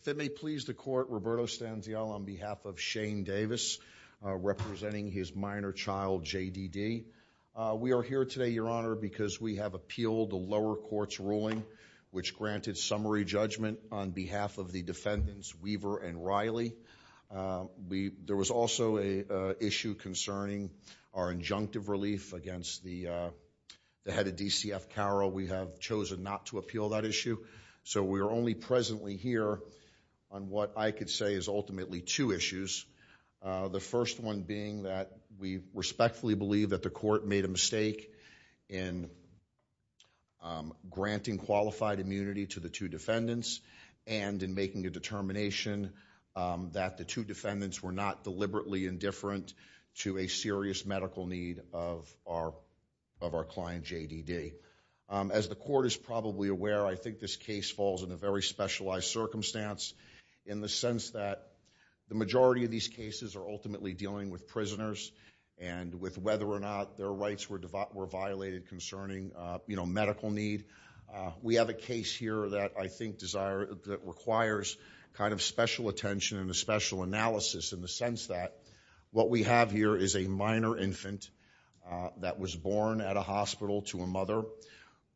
If it may please the court, Roberto Stanziel on behalf of Shane Davis, representing his minor child, J.D.D. We are here today, Your Honor, because we have appealed the lower court's ruling which granted summary judgment on behalf of the defendants Weaver and Riley. There was also an issue concerning our injunctive relief against the head of DCF Carroll. We have chosen not to appeal that issue. So we are only presently here on what I could say is ultimately two issues. The first one being that we respectfully believe that the court made a mistake in granting qualified immunity to the two defendants and in making a determination that the two defendants were not deliberately indifferent to a serious medical need of our client, J.D.D. As the court is probably aware, I think this case falls in a very specialized circumstance in the sense that the majority of these cases are ultimately dealing with prisoners and with whether or not their rights were violated concerning medical need. We have a case here that I think requires kind of special attention and a special analysis in the sense that what we have here is a minor infant that was born at a hospital to a mother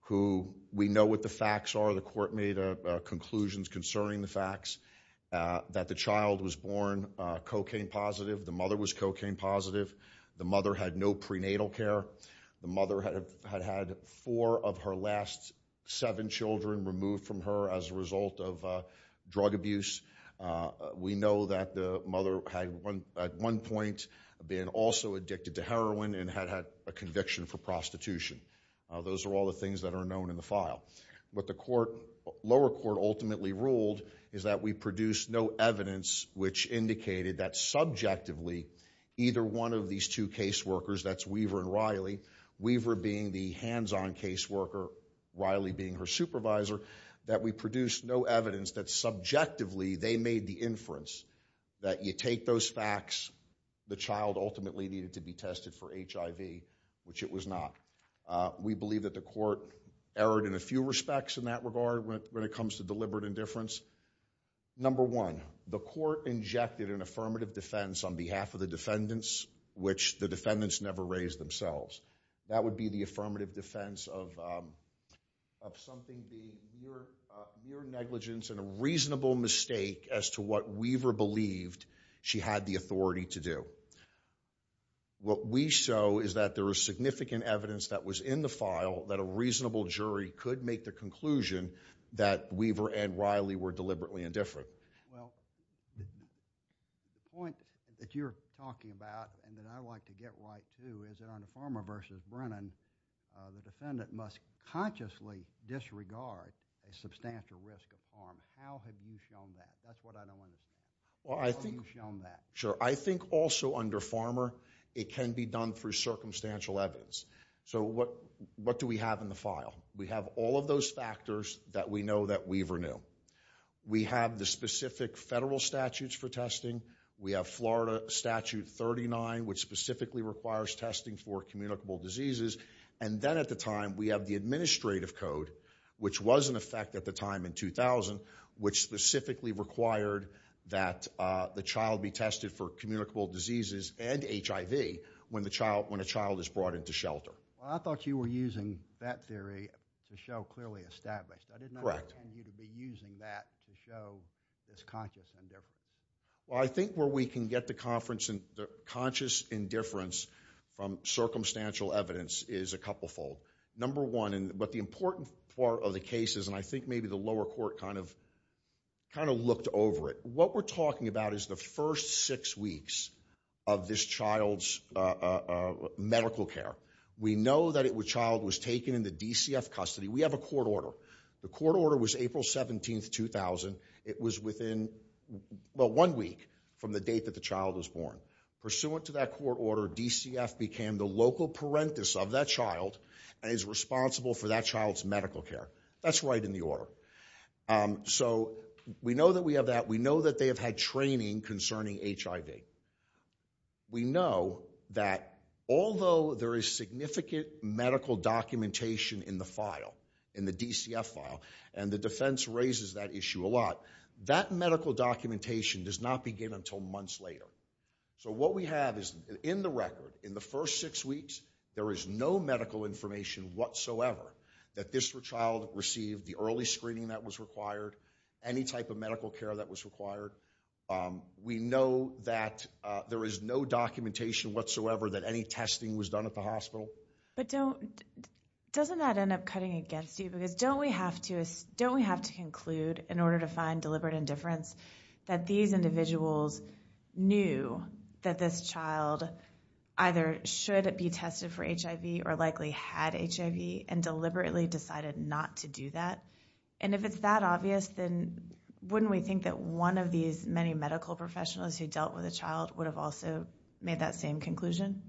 who we know what the facts are. The court made conclusions concerning the facts that the child was born cocaine positive, the mother was cocaine positive, the mother had no prenatal care, the mother had had four of her last seven children removed from her as a result of drug abuse. We know that the mother had at one point been also addicted to heroin and had had a conviction for prostitution. Those are all the things that are known in the file. What the lower court ultimately ruled is that we produced no evidence which indicated that subjectively either one of these two case workers, that's Weaver and Riley, Weaver being the hands-on case worker, Riley being her supervisor, that we produced no evidence that subjectively they made the inference that you take those facts, the child ultimately needed to be tested for HIV, which it was not. We believe that the court erred in a few respects in that regard when it comes to deliberate indifference. Number one, the court injected an affirmative defense on behalf of the defendants, which the defendants never raised themselves. That would be the affirmative defense of something being mere negligence and a reasonable mistake as to what Weaver believed she had the authority to do. What we show is that there is significant evidence that was in the file that a reasonable and that Riley were deliberately indifferent. Well, the point that you're talking about and that I'd like to get right too is that under Farmer v. Brennan, the defendant must consciously disregard a substantial risk of harm. How have you shown that? That's what I don't understand. How have you shown that? Sure. I think also under Farmer, it can be done through circumstantial evidence. So what do we have in the file? We have all of those factors that we know that Weaver knew. We have the specific federal statutes for testing. We have Florida Statute 39, which specifically requires testing for communicable diseases. And then at the time, we have the administrative code, which was in effect at the time in 2000, which specifically required that the child be tested for communicable diseases and HIV when a child is brought into shelter. Well, I thought you were using that theory to show clearly established. Correct. I did not intend you to be using that to show this conscious indifference. Well, I think where we can get the conscious indifference from circumstantial evidence is a couple fold. Number one, but the important part of the case is, and I think maybe the lower court kind of looked over it. What we're talking about is the first six weeks of this child's medical care. We know that it was child was taken in the DCF custody. We have a court order. The court order was April 17, 2000. It was within one week from the date that the child was born. Pursuant to that court order, DCF became the local parentis of that child and is responsible for that child's medical care. That's right in the order. So we know that we have that. We know that they have had training concerning HIV. We know that although there is significant medical documentation in the file, in the DCF file, and the defense raises that issue a lot, that medical documentation does not begin until months later. So what we have is in the record, in the first six weeks, there is no medical information whatsoever that this child received, the early screening that was required, any type of medical care that was required. We know that there is no documentation whatsoever that any testing was done at the hospital. But don't, doesn't that end up cutting against you because don't we have to, don't we have to conclude in order to find deliberate indifference that these individuals knew that this child either should be tested for HIV or likely had HIV and deliberately decided not to do that? And if it's that obvious, then wouldn't we think that one of these many medical professionals who dealt with a child would have also made that same conclusion?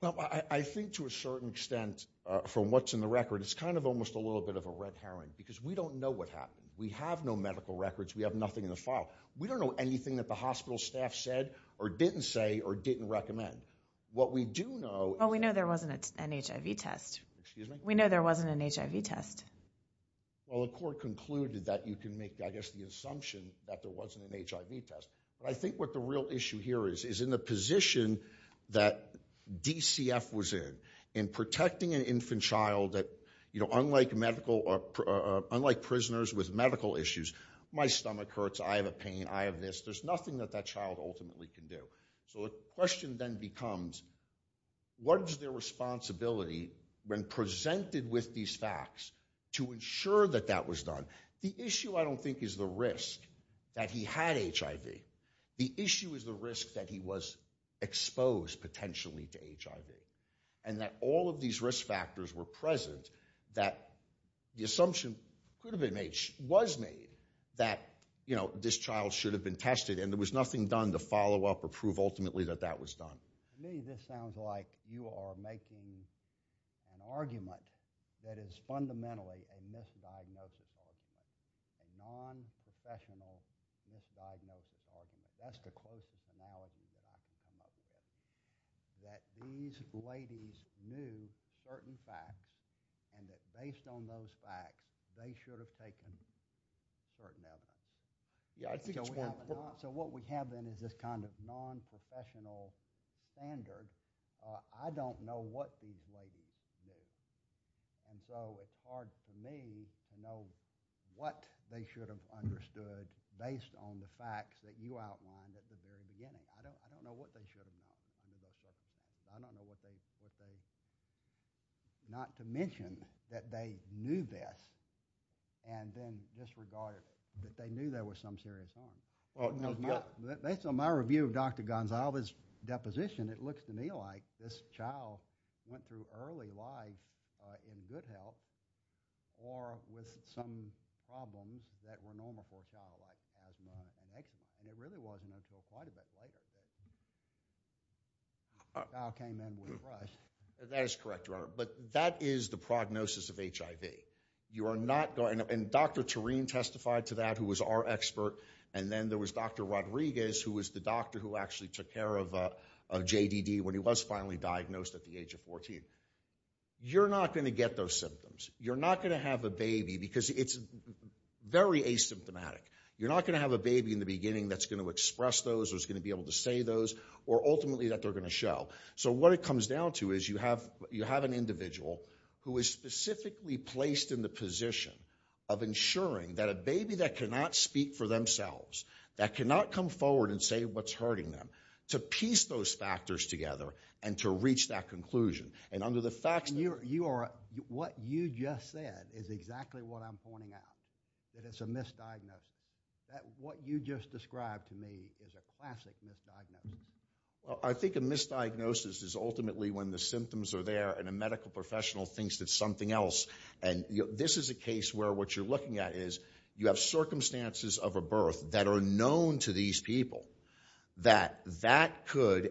Well, I think to a certain extent from what's in the record, it's kind of almost a little bit of a red herring because we don't know what happened. We have no medical records. We have nothing in the file. We don't know anything that the hospital staff said or didn't say or didn't recommend. What we do know... Well, we know there wasn't an HIV test. We know there wasn't an HIV test. Well, the court concluded that you can make, I guess, the assumption that there wasn't an HIV test. But I think what the real issue here is, is in the position that DCF was in, in protecting an infant child that, you know, unlike medical, unlike prisoners with medical issues, my stomach hurts, I have a pain, I have this, there's nothing that that child ultimately can do. So the question then becomes, what is their responsibility when presented with these facts to ensure that that was done? The issue, I don't think, is the risk that he had HIV. The issue is the risk that he was exposed potentially to HIV and that all of these risk factors were present that the assumption could have been made, was made, that, you know, this child should have been tested and there was nothing done to follow up or prove ultimately that that was done. To me, this sounds like you are making an argument that is fundamentally a misdiagnosis argument, a non-professional misdiagnosis argument. That's the closest analogy that I can come up with. That these ladies knew certain facts and that based on those facts, they should have taken certain evidence. So what we have then is this kind of non-professional standard. I don't know what these ladies knew. And so it's hard for me to know what they should have understood based on the facts that you outlined at the very beginning. I don't know what they should have known. I don't know what they, not to mention that they knew best. And then disregarded that they knew there was some serious harm. Based on my review of Dr. Gonzales' deposition, it looks to me like this child went through early life in good health or with some problems that were normal for a child like asthma and HIV. And it really wasn't until quite a bit later. The child came in with a crush. That is correct, Your Honor. But that is the prognosis of HIV. And Dr. Tureen testified to that, who was our expert. And then there was Dr. Rodriguez, who was the doctor who actually took care of JDD when he was finally diagnosed at the age of 14. You're not going to get those symptoms. You're not going to have a baby because it's very asymptomatic. You're not going to have a baby in the beginning that's going to express those, that's going to be able to say those, or ultimately that they're going to show. So what it comes down to is you have an individual who is specifically placed in the position of ensuring that a baby that cannot speak for themselves, that cannot come forward and say what's hurting them, to piece those factors together and to reach that conclusion. And under the facts... Your Honor, what you just said is exactly what I'm pointing out, that it's a misdiagnosis. What you just described to me is a classic misdiagnosis. I think a misdiagnosis is ultimately when the symptoms are there and a medical professional thinks it's something else. And this is a case where what you're looking at is you have circumstances of a birth that are known to these people that that could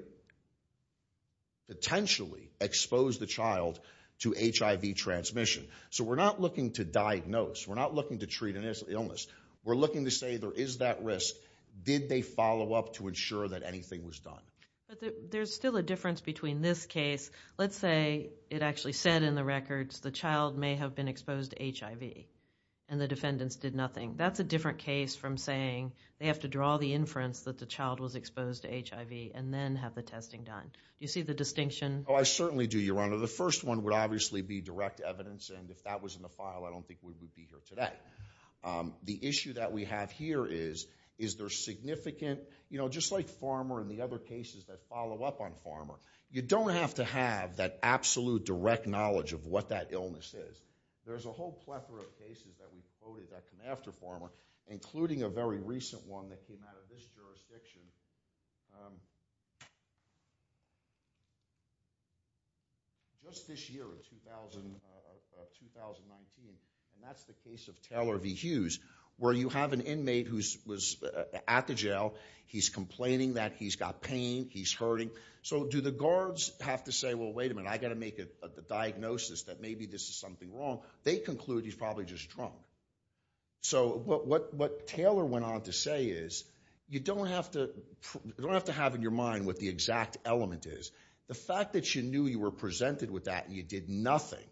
potentially expose the child to HIV transmission. So we're not looking to diagnose. We're not looking to treat an illness. We're looking to say there is that risk. Did they follow up to ensure that anything was done? But there's still a difference between this case. Let's say it actually said in the records the child may have been exposed to HIV and the defendants did nothing. That's a different case from saying they have to draw the inference that the child was exposed to HIV and then have the testing done. Do you see the distinction? Oh, I certainly do, Your Honor. The first one would obviously be direct evidence, and if that was in the file, I don't think we would be here today. The issue that we have here is, is there significant, you know, just like Farmer and the other cases that follow up on Farmer, you don't have to have that absolute direct knowledge of what that illness is. There's a whole plethora of cases that we've quoted that come after Farmer, including a very recent one that came out of this jurisdiction just this year in 2019, and that's the case of Taylor v. Hughes, where you have an inmate who's at the jail, he's complaining that he's got pain, he's hurting. So do the guards have to say, well, wait a minute, I've got to make a diagnosis that maybe this is something wrong? They conclude he's probably just drunk. So what Taylor went on to say is, you don't have to have in your mind what the exact element is. The fact that you knew you were presented with that and you did nothing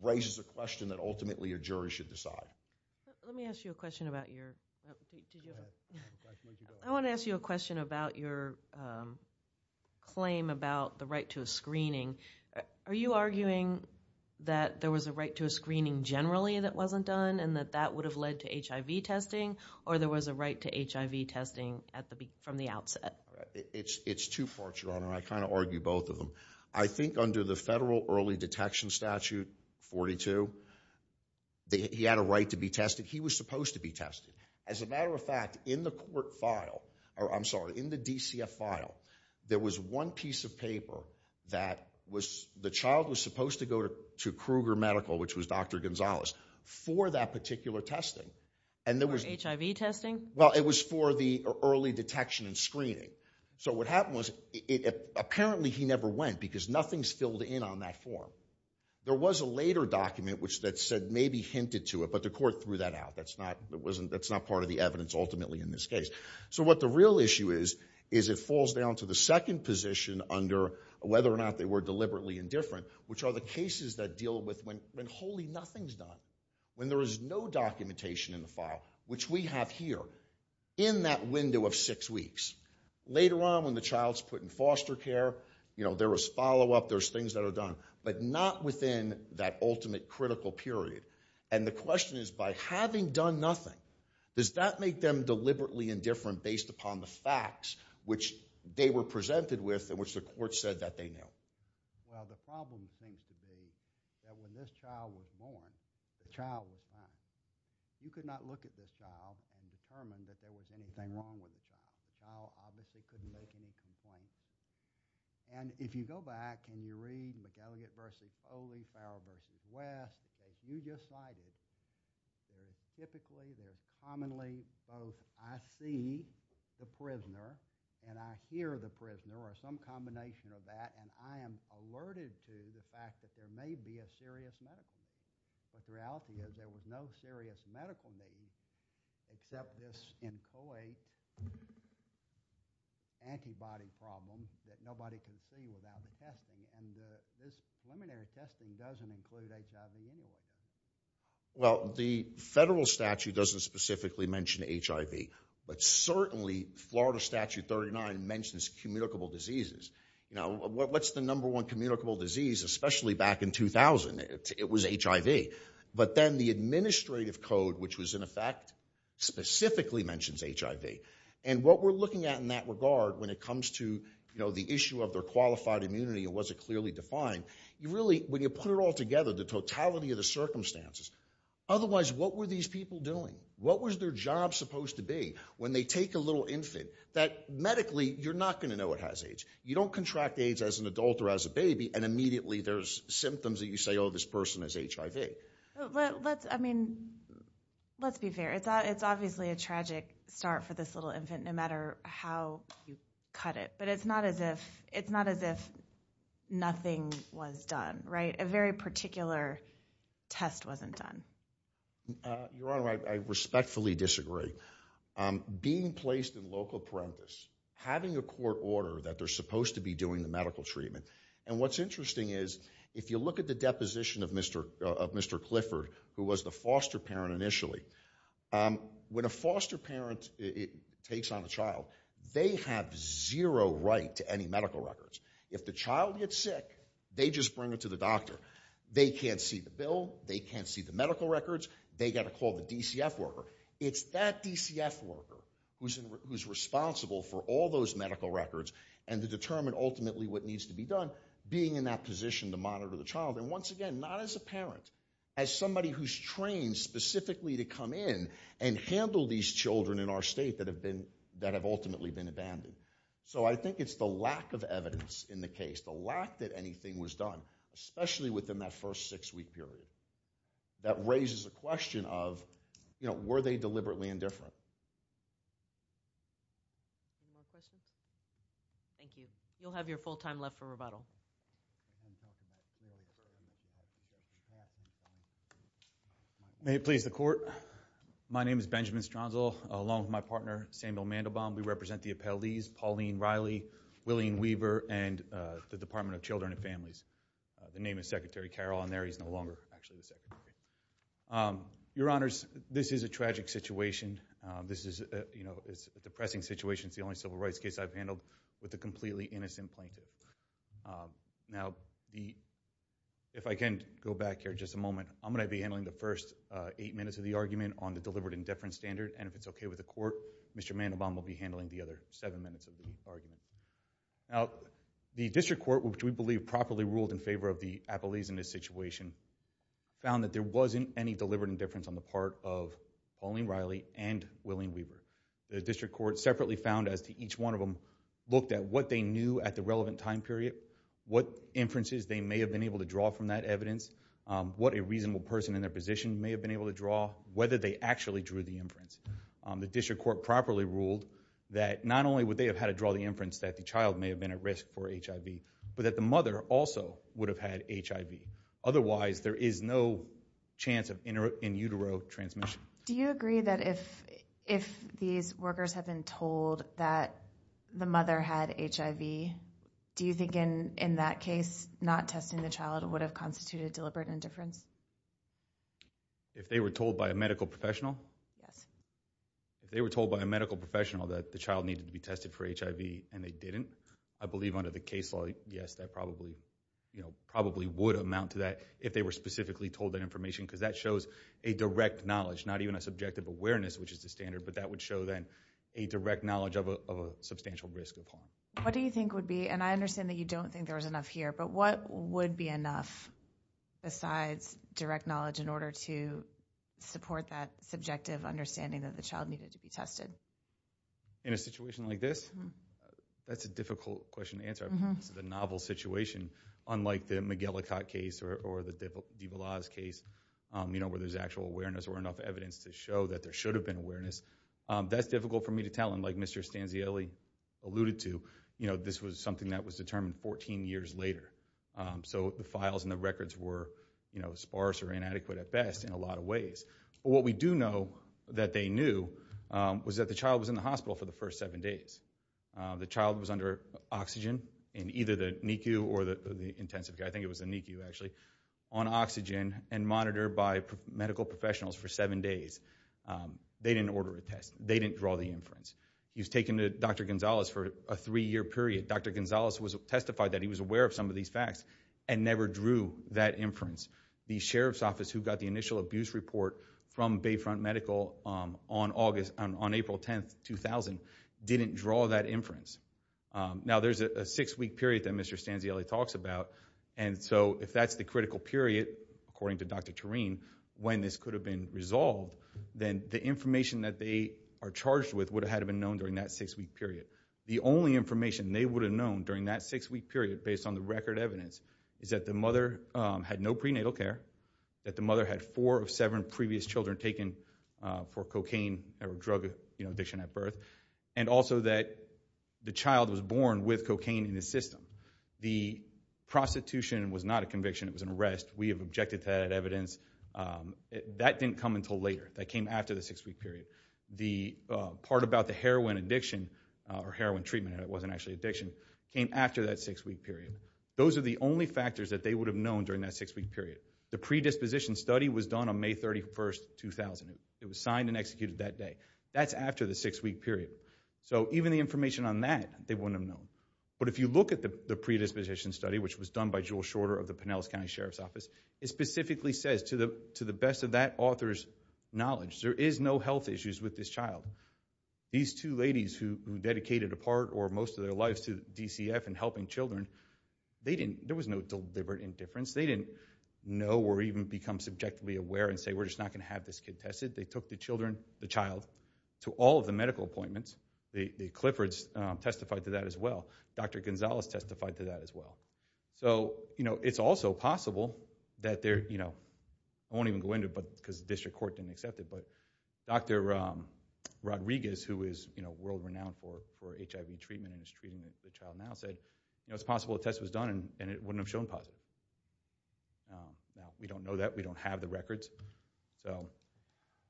raises a question that ultimately your jury should decide. Let me ask you a question about your claim about the right to a screening. Are you arguing that there was a right to a screening generally that wasn't done and that that would have led to HIV testing, or there was a right to HIV testing from the outset? It's two parts, Your Honor, and I kind of argue both of them. I think under the federal early detection statute, 42, he had a right to be tested. He was supposed to be tested. As a matter of fact, in the court file, or I'm sorry, in the DCF file, there was one piece of paper that the child was supposed to go to Kruger Medical, which was Dr. Gonzales, for that particular testing. For HIV testing? Well, it was for the early detection and screening. So what happened was, apparently he never went because nothing's filled in on that form. There was a later document that said maybe hinted to it, but the court threw that out. That's not part of the evidence ultimately in this case. So what the real issue is, is it falls down to the second position under whether or not they were deliberately indifferent, which are the cases that deal with when wholly nothing's done. When there is no documentation in the file, which we have here, in that window of six weeks, later on when the child's put in foster care, you know, there was follow-up, there's things that are done, but not within that ultimate critical period. And the question is, by having done nothing, does that make them deliberately indifferent based upon the facts which they were presented with and which the court said that they knew? Well, the problem seems to be that when this child was born, the child was not. You could not look at this child and determine that there was anything wrong with the child. The child obviously couldn't make any complaints. And if you go back and you read McElligott v. Coley, Farrell v. West, as you just cited, there's typically, there's commonly both, I see the prisoner and I hear the prisoner or some combination of that, and I am alerted to the fact that there may be a serious medical need, but the reality is there was no serious medical need except this McElligott v. Coley antibody problem that nobody can see without testing. And this preliminary testing doesn't include HIV anyway. Well, the federal statute doesn't specifically mention HIV, but certainly Florida Statute 39 mentions communicable diseases. You know, what's the number one communicable disease, especially back in 2000? It was HIV. But then the administrative code, which was in effect, specifically mentions HIV. And what we're looking at in that regard when it comes to, you know, the issue of their qualified immunity and was it clearly defined, you really, when you put it all together, the totality of the circumstances, otherwise what were these people doing? What was their job supposed to be? When they take a little infant, that medically, you're not going to know it has AIDS. You don't contract AIDS as an adult or as a baby, and immediately there's symptoms that you say, oh, this person has HIV. Let's, I mean, let's be fair. It's obviously a tragic start for this little infant, no matter how you cut it. But it's not as if, it's not as if nothing was done, right? A very particular test wasn't done. Your Honor, I respectfully disagree. Being placed in local parenthesis, having a court order that they're supposed to be doing the medical treatment. And what's interesting is, if you look at the deposition of Mr. Clifford, who was the foster parent initially, when a foster parent takes on a child, they have zero right to any medical records. If the child gets sick, they just bring it to the doctor. They can't see the bill. They can't see the medical records. They got to call the DCF worker. It's that DCF worker who's responsible for all those medical records and to determine ultimately what needs to be done, being in that position to monitor the child. And once again, not as a parent, as somebody who's trained specifically to come in and handle these children in our state that have been, that have ultimately been abandoned. So I think it's the lack of evidence in the case, the lack that anything was done, especially within that first six-week period, that raises a question of, you know, were they deliberately indifferent? Any more questions? Thank you. You'll have your full time left for rebuttal. May it please the Court. My name is Benjamin Stronzal, along with my partner Samuel Mandelbaum. We represent the appellees Pauline Riley, William Weaver, and the Department of Children and Families. The name is Secretary Carroll on there. He's no longer actually the Secretary. Your Honors, this is a tragic situation. This is, you know, a depressing situation. It's the only civil rights case I've handled with a completely innocent plaintiff. Now, the... If I can go back here just a moment, I'm going to be handling the first eight minutes of the argument on the deliberate indifference standard, and if it's okay with the Court, Mr. Mandelbaum will be handling the other seven minutes of the argument. Now, the District Court, which we believe properly ruled in favor of the appellees in this situation, found that there wasn't any deliberate indifference on the part of Pauline Riley and William Weaver. The District Court separately found, as to each one of them, looked at what they knew at the relevant time period, what inferences they may have been able to draw from that evidence, what a reasonable person in their position may have been able to draw, whether they actually drew the inference. The District Court properly ruled that not only would they have had to draw the inference that the child may have been at risk for HIV, but that the mother also would have had HIV. Otherwise, there is no chance of in utero transmission. Do you agree that if these workers have been told that the mother had HIV, do you think in that case, not testing the child would have constituted deliberate indifference? If they were told by a medical professional? Yes. If they were told by a medical professional that the child needed to be tested for HIV and they didn't, I believe under the case law, yes, that probably would amount to that if they were specifically told that information because that shows a direct knowledge, not even a subjective awareness, which is the standard, but that would show then a direct knowledge of a substantial risk. What do you think would be, and I understand that you don't think there was enough here, but what would be enough besides direct knowledge in order to support that subjective understanding that the child needed to be tested? In a situation like this? That's a difficult question to answer. It's a novel situation, unlike the Miguelicot case or the de Villas case, where there's actual awareness or enough evidence to show that there should have been awareness. That's difficult for me to tell, and like Mr. Stanzielli alluded to, this was something that was determined 14 years later, so the files and the records were sparse or inadequate at best in a lot of ways. What we do know that they knew was that the child was in the hospital for the first seven days. The child was under oxygen in either the NICU or the intensive care, I think it was the NICU actually, on oxygen and monitored by medical professionals for seven days. They didn't order a test. They didn't draw the inference. He was taken to Dr. Gonzalez for a three-year period. Dr. Gonzalez testified that he was aware of some of these facts and never drew that inference. The sheriff's office who got the initial abuse report from Bayfront Medical on April 10, 2000 didn't draw that inference. Now there's a six-week period that Mr. Stanzielli talks about, and so if that's the critical period, according to Dr. Tureen, when this could have been resolved, then the information that they are charged with would have had to have been known during that six-week period. The only information they would have known during that six-week period, based on the record evidence, is that the mother had no prenatal care, that the mother had four of seven previous children taken for cocaine or drug addiction at birth, and also that the child was born with cocaine in the system. The prostitution was not a conviction. It was an arrest. We have objected to that evidence. That didn't come until later. That came after the six-week period. The part about the heroin addiction or heroin treatment, and it wasn't actually addiction, came after that six-week period. Those are the only factors that they would have known during that six-week period. The predisposition study was done on May 31, 2000. It was signed and executed that day. That's after the six-week period. So even the information on that, they wouldn't have known. But if you look at the predisposition study, which was done by Jewel Shorter of the Pinellas County Sheriff's Office, it specifically says, to the best of that author's knowledge, there is no health issues with this child. These two ladies who dedicated a part or most of their lives to DCF and helping children, there was no deliberate indifference. They didn't know or even become subjectively aware and say, we're just not going to have this kid tested. They took the child to all of the medical appointments. The Cliffords testified to that as well. Dr. Gonzalez testified to that as well. So it's also possible that they're, you know, I won't even go into it because the district court didn't accept it, but Dr. Rodriguez, who is world-renowned for HIV treatment and is treating the child now, said it's possible a test was done and it wouldn't have shown positive. We don't know that. We don't have the records.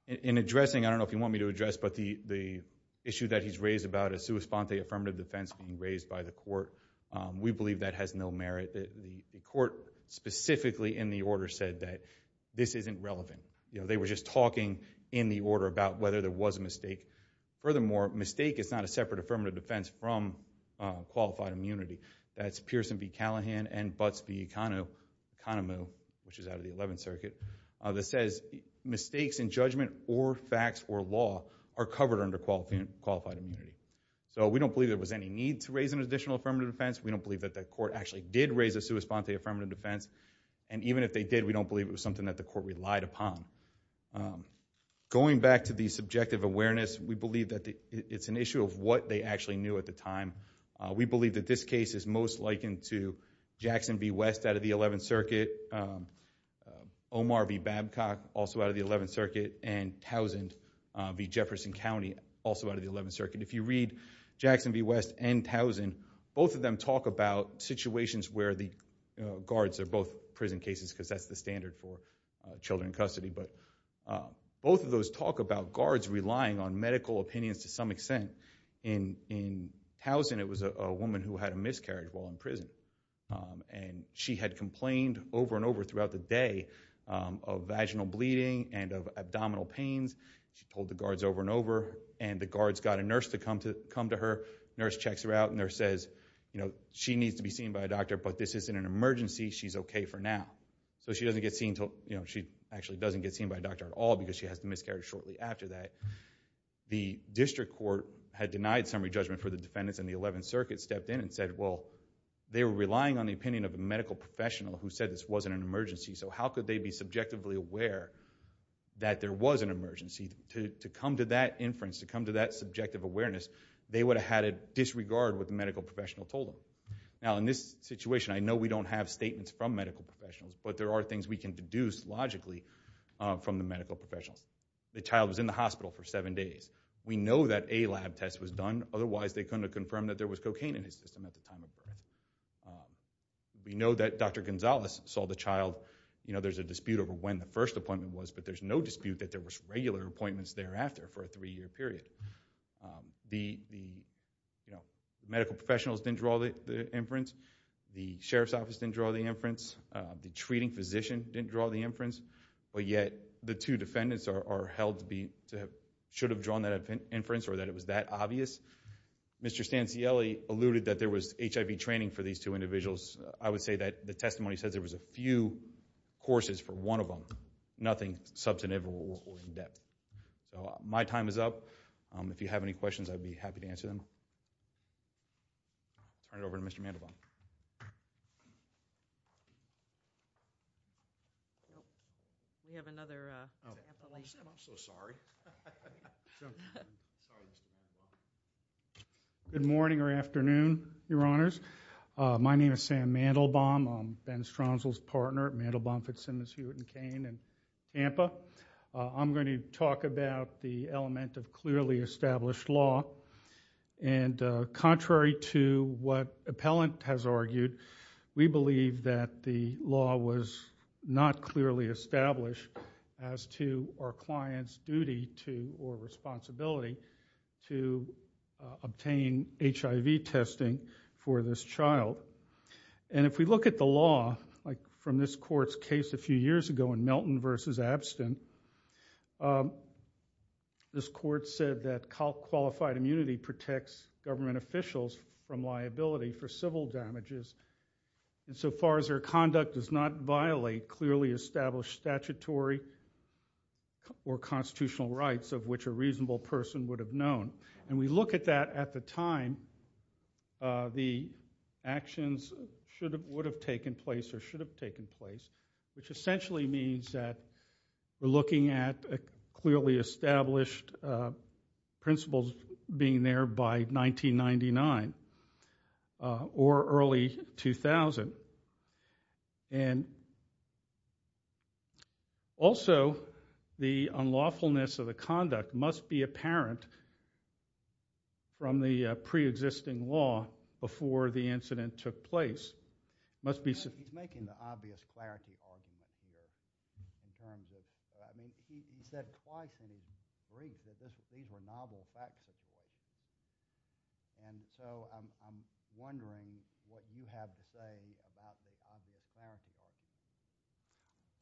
In addressing, I don't know if you want me to address, but the issue that he's raised about a sua sponte affirmative defense being raised by the court, we believe that has no merit. The court specifically in the order said that this isn't relevant. They were just talking in the order about whether there was a mistake. Furthermore, mistake is not a separate affirmative defense from qualified immunity. That's Pearson v. Callahan and Butts v. Kanemu, which is out of the 11th Circuit, that says mistakes in judgment or facts or law are covered under qualified immunity. So we don't believe there was any need to raise an additional affirmative defense. We don't believe that the court actually did raise a sua sponte affirmative defense, and even if they did, we don't believe it was something that the court relied upon. Going back to the subjective awareness, we believe that it's an issue of what they actually knew at the time. We believe that this case is most likened to Jackson v. West out of the 11th Circuit, Omar v. Babcock, also out of the 11th Circuit, and Towsend v. Jefferson County, also out of the 11th Circuit. If you read Jackson v. West and Towsend, both of them talk about situations where the guards are both prison cases because that's the standard for children in custody, but both of those talk about guards relying on medical opinions to some extent. In Towsend, it was a woman who had a miscarriage while in prison, and she had complained over and over throughout the day of vaginal bleeding and of abdominal pains. She told the guards over and over, and the guards got a nurse to come to her. The nurse checks her out, and the nurse says, you know, she needs to be seen by a doctor, but this isn't an emergency. She's okay for now. So she doesn't get seen until, you know, she actually doesn't get seen by a doctor at all because she has a miscarriage shortly after that. The district court had denied summary judgment for the defendants, and the 11th Circuit stepped in and said, well, they were relying on the opinion of a medical professional who said this wasn't an emergency, so how could they be subjectively aware that there was an emergency? To come to that inference, to come to that subjective awareness, they would have had to disregard what the medical professional told them. Now, in this situation, I know we don't have statements from medical professionals, but there are things we can deduce logically from the medical professionals. The child was in the hospital for seven days. We know that a lab test was done. Otherwise, they couldn't have confirmed that there was cocaine in his system at the time of birth. We know that Dr. Gonzalez saw the child. You know, there's a dispute over when the first appointment was, but there's no dispute that there was regular appointments thereafter for a three-year period. The, you know, medical professionals didn't draw the inference. The sheriff's office didn't draw the inference. The treating physician didn't draw the inference. But yet, the two defendants are held to be, should have drawn that inference or that it was that obvious. Mr. Stancielli alluded that there was HIV training for these two individuals. I would say that the testimony says there was a few courses for one of them, nothing substantive or in-depth. So, my time is up. If you have any questions, I'd be happy to answer them. Turn it over to Mr. Mandelbaum. We have another, uh... I'm so sorry. Good morning or afternoon, Your Honors. My name is Sam Mandelbaum. I'm Ben Stronzl's partner at Mandelbaum, Fitzsimmons, Hewitt & Cain, and AMPA. I'm going to talk about the element of clearly established law. Contrary to what appellant has argued, we believe that the law was not clearly established as to our client's duty to, or responsibility, to obtain HIV testing for this child. If we look at the law, from this court's case a few years ago in Melton v. Abstin, this court said that qualified immunity protects government officials from liability for civil damages. And so far as their conduct does not violate clearly established statutory or constitutional rights of which a reasonable person would have known. And we look at that at the time the actions would have taken place or should have taken place, which essentially means that we're looking at a clearly established principle being there by 1999 or early 2000. Also, the unlawfulness of the conduct must be apparent from the pre-existing law before the incident took place. He's making the obvious clarity argument here in terms of, I mean, he said twice in his brief that these were novel facts. And so I'm wondering what you have to say about the obvious clarity argument.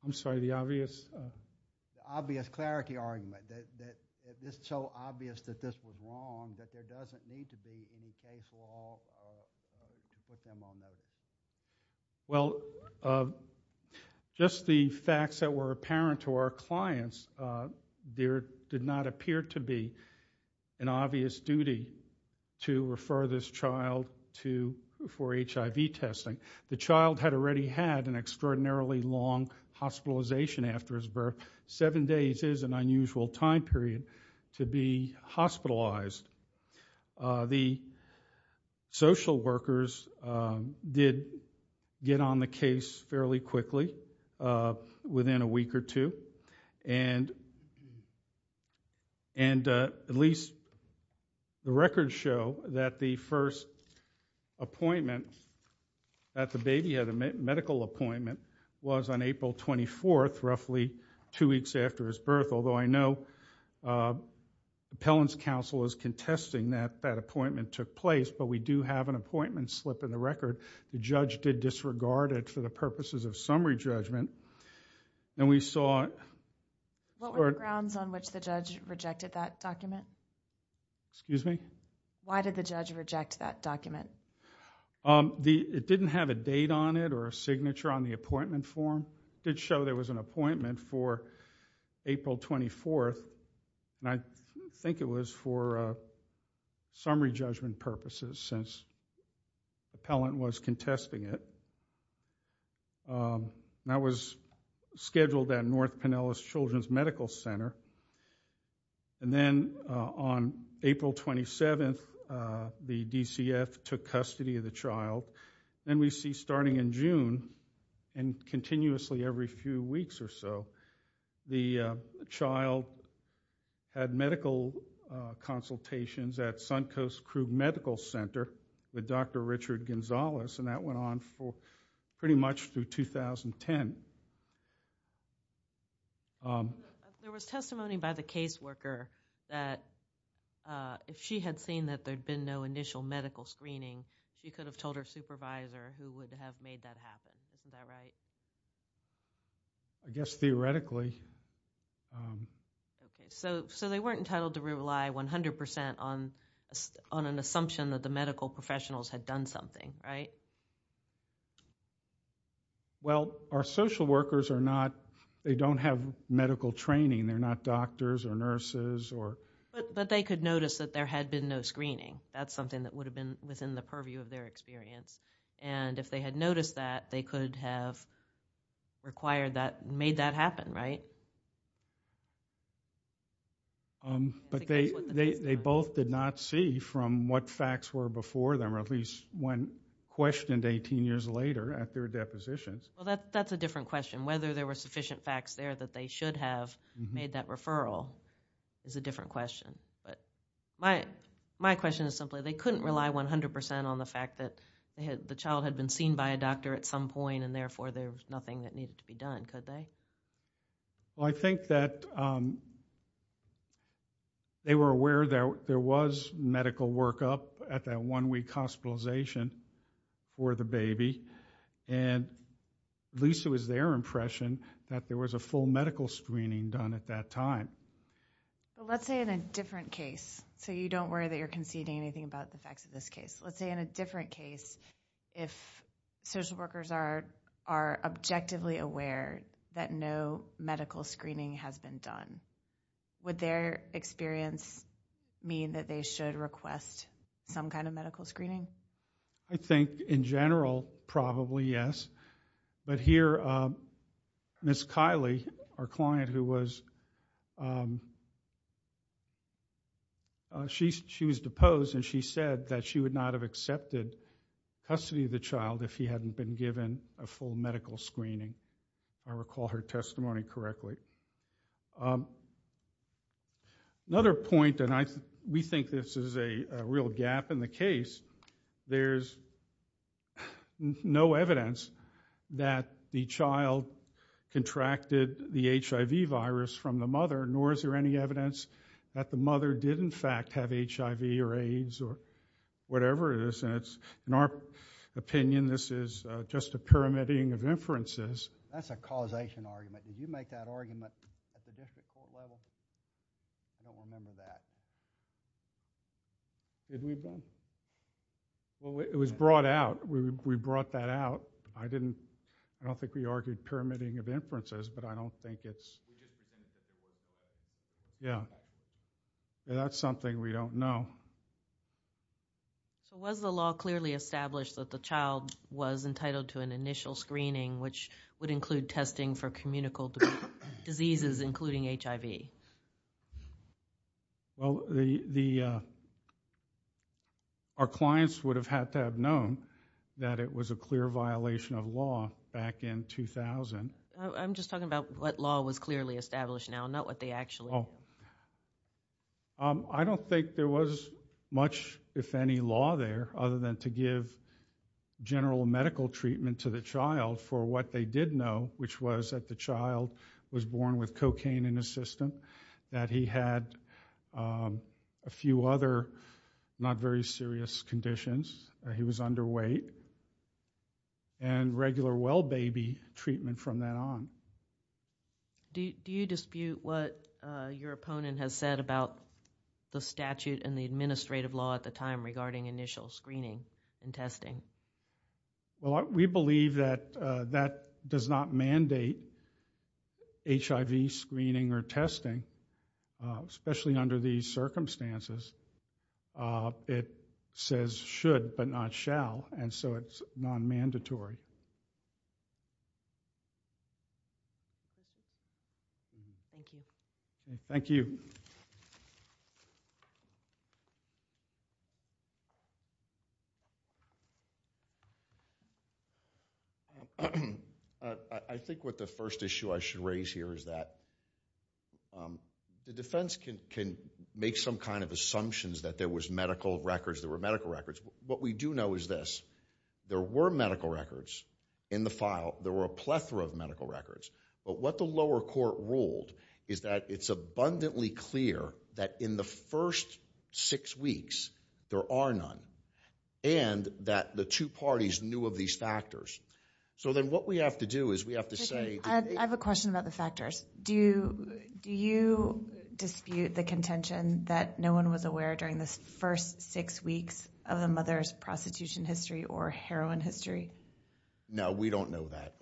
I'm sorry, the obvious? The obvious clarity argument that it's so obvious that this was wrong, that there doesn't need to be any case law to put them on notice. Well, just the facts that were apparent to our clients, there did not appear to be an obvious duty to refer this child for HIV testing. The child had already had an extraordinarily long hospitalization after his birth. Seven days is an unusual time period to be hospitalized. The social workers did get on the case fairly quickly within a week or two. And at least the records show that the first appointment that the baby had a medical appointment was on April 24th, roughly two weeks after his birth. Although I know Appellant's Counsel is contesting that that appointment took place, but we do have an appointment slip in the record. The judge did disregard it for the purposes of summary judgment. And we saw What were the grounds on which the judge rejected that document? Excuse me? Why did the judge reject that document? It didn't have a date on it or a signature on the appointment form. It did show there was an appointment for April 24th. And I think it was for summary judgment purposes since Appellant was contesting it. That was scheduled at North Pinellas Children's Medical Center. And then on April 27th the DCF took custody of the child. And we see starting in June and continuously every few weeks or so, the child had medical consultations at Suncoast Crook Medical Center with Dr. Richard Gonzalez. And that went on for pretty much through 2010. There was testimony by the case worker that if she had seen that there had been no initial medical screening she could have told her supervisor who would have made that happen. Isn't that right? I guess theoretically. So they weren't entitled to rely 100% on an assumption that the medical professionals had done something, right? Well, our social workers are not they don't have medical training. They're not doctors or nurses. But they could notice that there had been no screening. That's something that would have been within the purview of their experience. And if they had noticed that, they could have made that happen, right? They both did not see from what facts were before them or at least when questioned 18 years later at their depositions. That's a different question. Whether there were sufficient facts there that they should have made that referral is a different question. My question is simply they couldn't rely 100% on the fact that the child had been seen by a doctor at some point and therefore there was nothing that needed to be done, could they? I think that they were aware that there was medical workup at that one week hospitalization for the baby and at least it was their impression that there was a full medical screening done at that time. Let's say in a different case, so you don't worry that you're conceding anything about the facts of this case. Let's say in a different case if social workers are objectively aware that no medical screening has been done. Would their experience mean that they should request some kind of medical screening? I think in general, probably yes. But here Ms. Kylie, our client who was she was deposed and she said that she would not have accepted custody of the child if he hadn't been given a full medical screening. If I recall her testimony correctly. Another point and we think this is a real gap in the case. There's no evidence that the child contracted the HIV virus from the mother nor is there any evidence that the mother did in fact have HIV or AIDS or whatever it is. In our opinion, this is just a pyramiding of inferences. That's a causation argument. Did you make that argument at the district court level? I don't remember that. Did we both? It was brought out. We brought that out. I don't think we argued pyramiding of inferences but I don't think it's... Yeah. That's something we don't know. Was the law clearly established that the child was entitled to an initial screening which would include testing for communicable diseases including HIV? Our clients would have had to have known that it was a clear violation of law back in 2000. I'm just talking about what law was clearly established now, not what they actually... I don't think there was much if any law there other than to give general medical treatment to the child for what they did know which was that the child was born with cocaine in his system that he had a few other not very serious conditions where he was underweight and regular well baby treatment from that on. Do you dispute what your opponent has said about the statute and the administrative law at the time regarding initial screening and testing? We believe that that does not mandate HIV screening or testing especially under these circumstances. It says should but not shall and so it's not mandatory. Thank you. I think what the first issue I should raise here is that the defense can make some kind of assumptions that there was medical records, there were medical records. What we do know is this there were medical records in the file there were a plethora of medical records but what the lower court ruled is that it's abundantly clear that in the first six weeks there are none and that the two parties knew of these factors. So then what we have to do is we have to say... I have a question about the factors. Do you dispute the contention that no one was aware during the first six weeks of a mother's prostitution history or heroin history? No, we don't know that.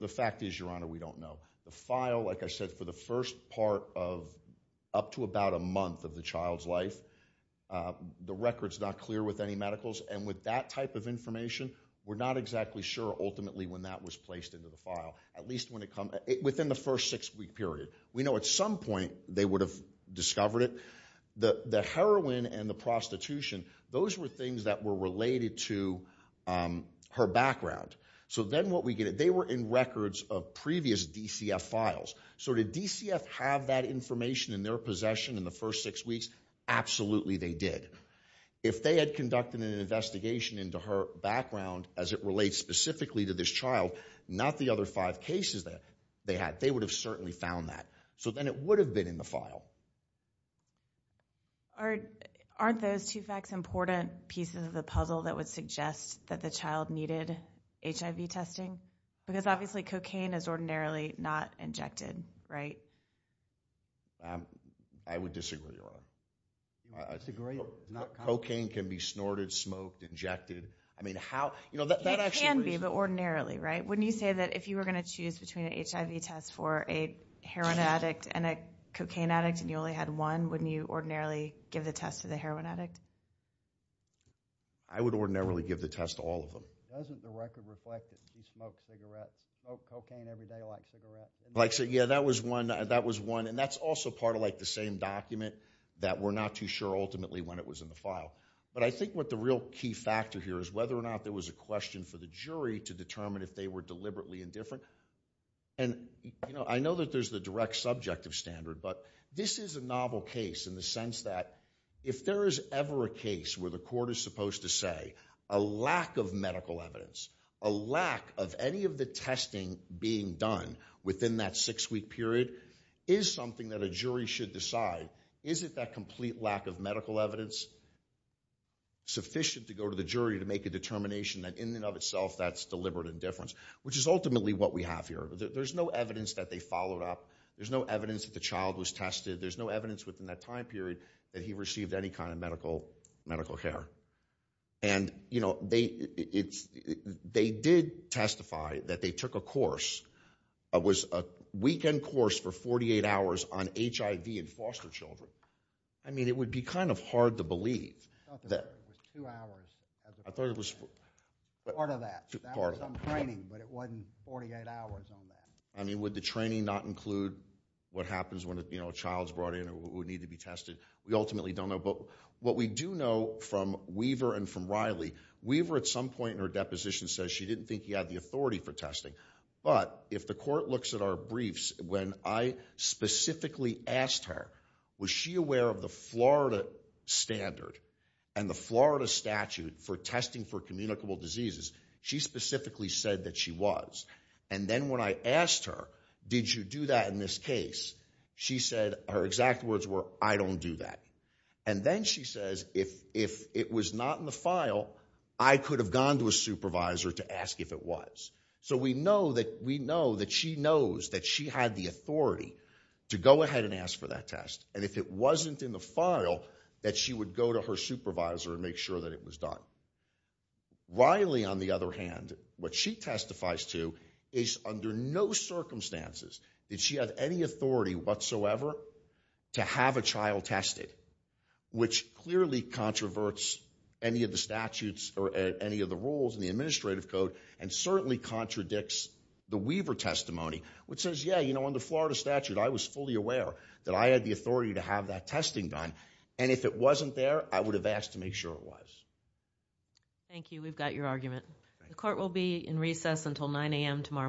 The fact is, Your Honor, we don't know. The file, like I said, for the first part of up to about a month of the child's life the record's not clear with any medicals and with that type of information we're not exactly sure ultimately when that was placed into the file. Within the first six week period. We know at some point they would have discovered it. The heroin and the prostitution those were things that were related to her background. So then what we get, they were in records of previous DCF files. So did DCF have that information in their possession in the first six weeks? Absolutely they did. If they had conducted an investigation into her background as it relates specifically to this child not the other five cases that they had, they would have certainly found that. So then it would have been in the file. Aren't those two facts important pieces of the puzzle that would suggest that the child needed HIV testing? Because obviously cocaine is ordinarily not injected, right? I would disagree, Your Honor. I disagree. Cocaine can be snorted, smoked, injected. It can be, but ordinarily, right? Wouldn't you say that if you were going to choose between an HIV test for a heroin addict and a cocaine addict and you only had one, wouldn't you ordinarily give the test to the heroin addict? I would ordinarily give the test to all of them. Doesn't the record reflect that she smoked cigarettes? Smoked cocaine every day like cigarettes? Yeah, that was one. And that's also part of the same document that we're not too sure ultimately when it was in the file. But I think what the real key factor here is whether or not there was a question for the jury to determine if they were deliberately indifferent. And I know that there's the direct subject of standard, but this is a novel case in the sense that if there is ever a case where the court is supposed to say a lack of medical evidence, a lack of any of the testing being done within that six-week period, is something that a jury should decide. Is it that complete lack of medical evidence sufficient to go to the jury to make a determination that in and of itself that's deliberate indifference, which is ultimately what we have here. There's no evidence that they followed up. There's no evidence that the child was tested. There's no evidence within that time period that he received any kind of medical care. And, you know, they did testify that they took a course that was a weekend course for 48 hours on HIV in foster children. I mean, it would be kind of hard to believe. I thought it was part of that. That was on training, but it wasn't 48 hours on that. I mean, would the training not include what happens when a child is brought in who would need to be tested? We ultimately don't know. But what we do know from Weaver and from Riley, Weaver at some point in her deposition says she didn't think he had the authority for testing. But if the court looks at our briefs when I specifically asked her, was she aware of the Florida standard and the Florida statute for testing for communicable diseases, she specifically said that she was. And then when I asked her, did you do that in this case, she said, her exact words were, I don't do that. And then she says, if it was not in the file, I could have gone to a supervisor to ask if it was. So we know that she knows that she had the authority to go ahead and ask for that test. And if it wasn't in the file, that she would go to her supervisor and make sure that it was done. Riley, on the other hand, what she testifies to is under no circumstances did she have any authority whatsoever to have a child tested, which clearly controverts any of the statutes or any of the rules in the administrative code and certainly contradicts the Weaver testimony, which says, yeah, you know, in the Florida statute, I was fully aware that I had the authority to have that testing done. And if it wasn't there, I would have asked to make sure it was. Thank you. We've got your argument. The court will be in recess until 9 a.m. tomorrow morning.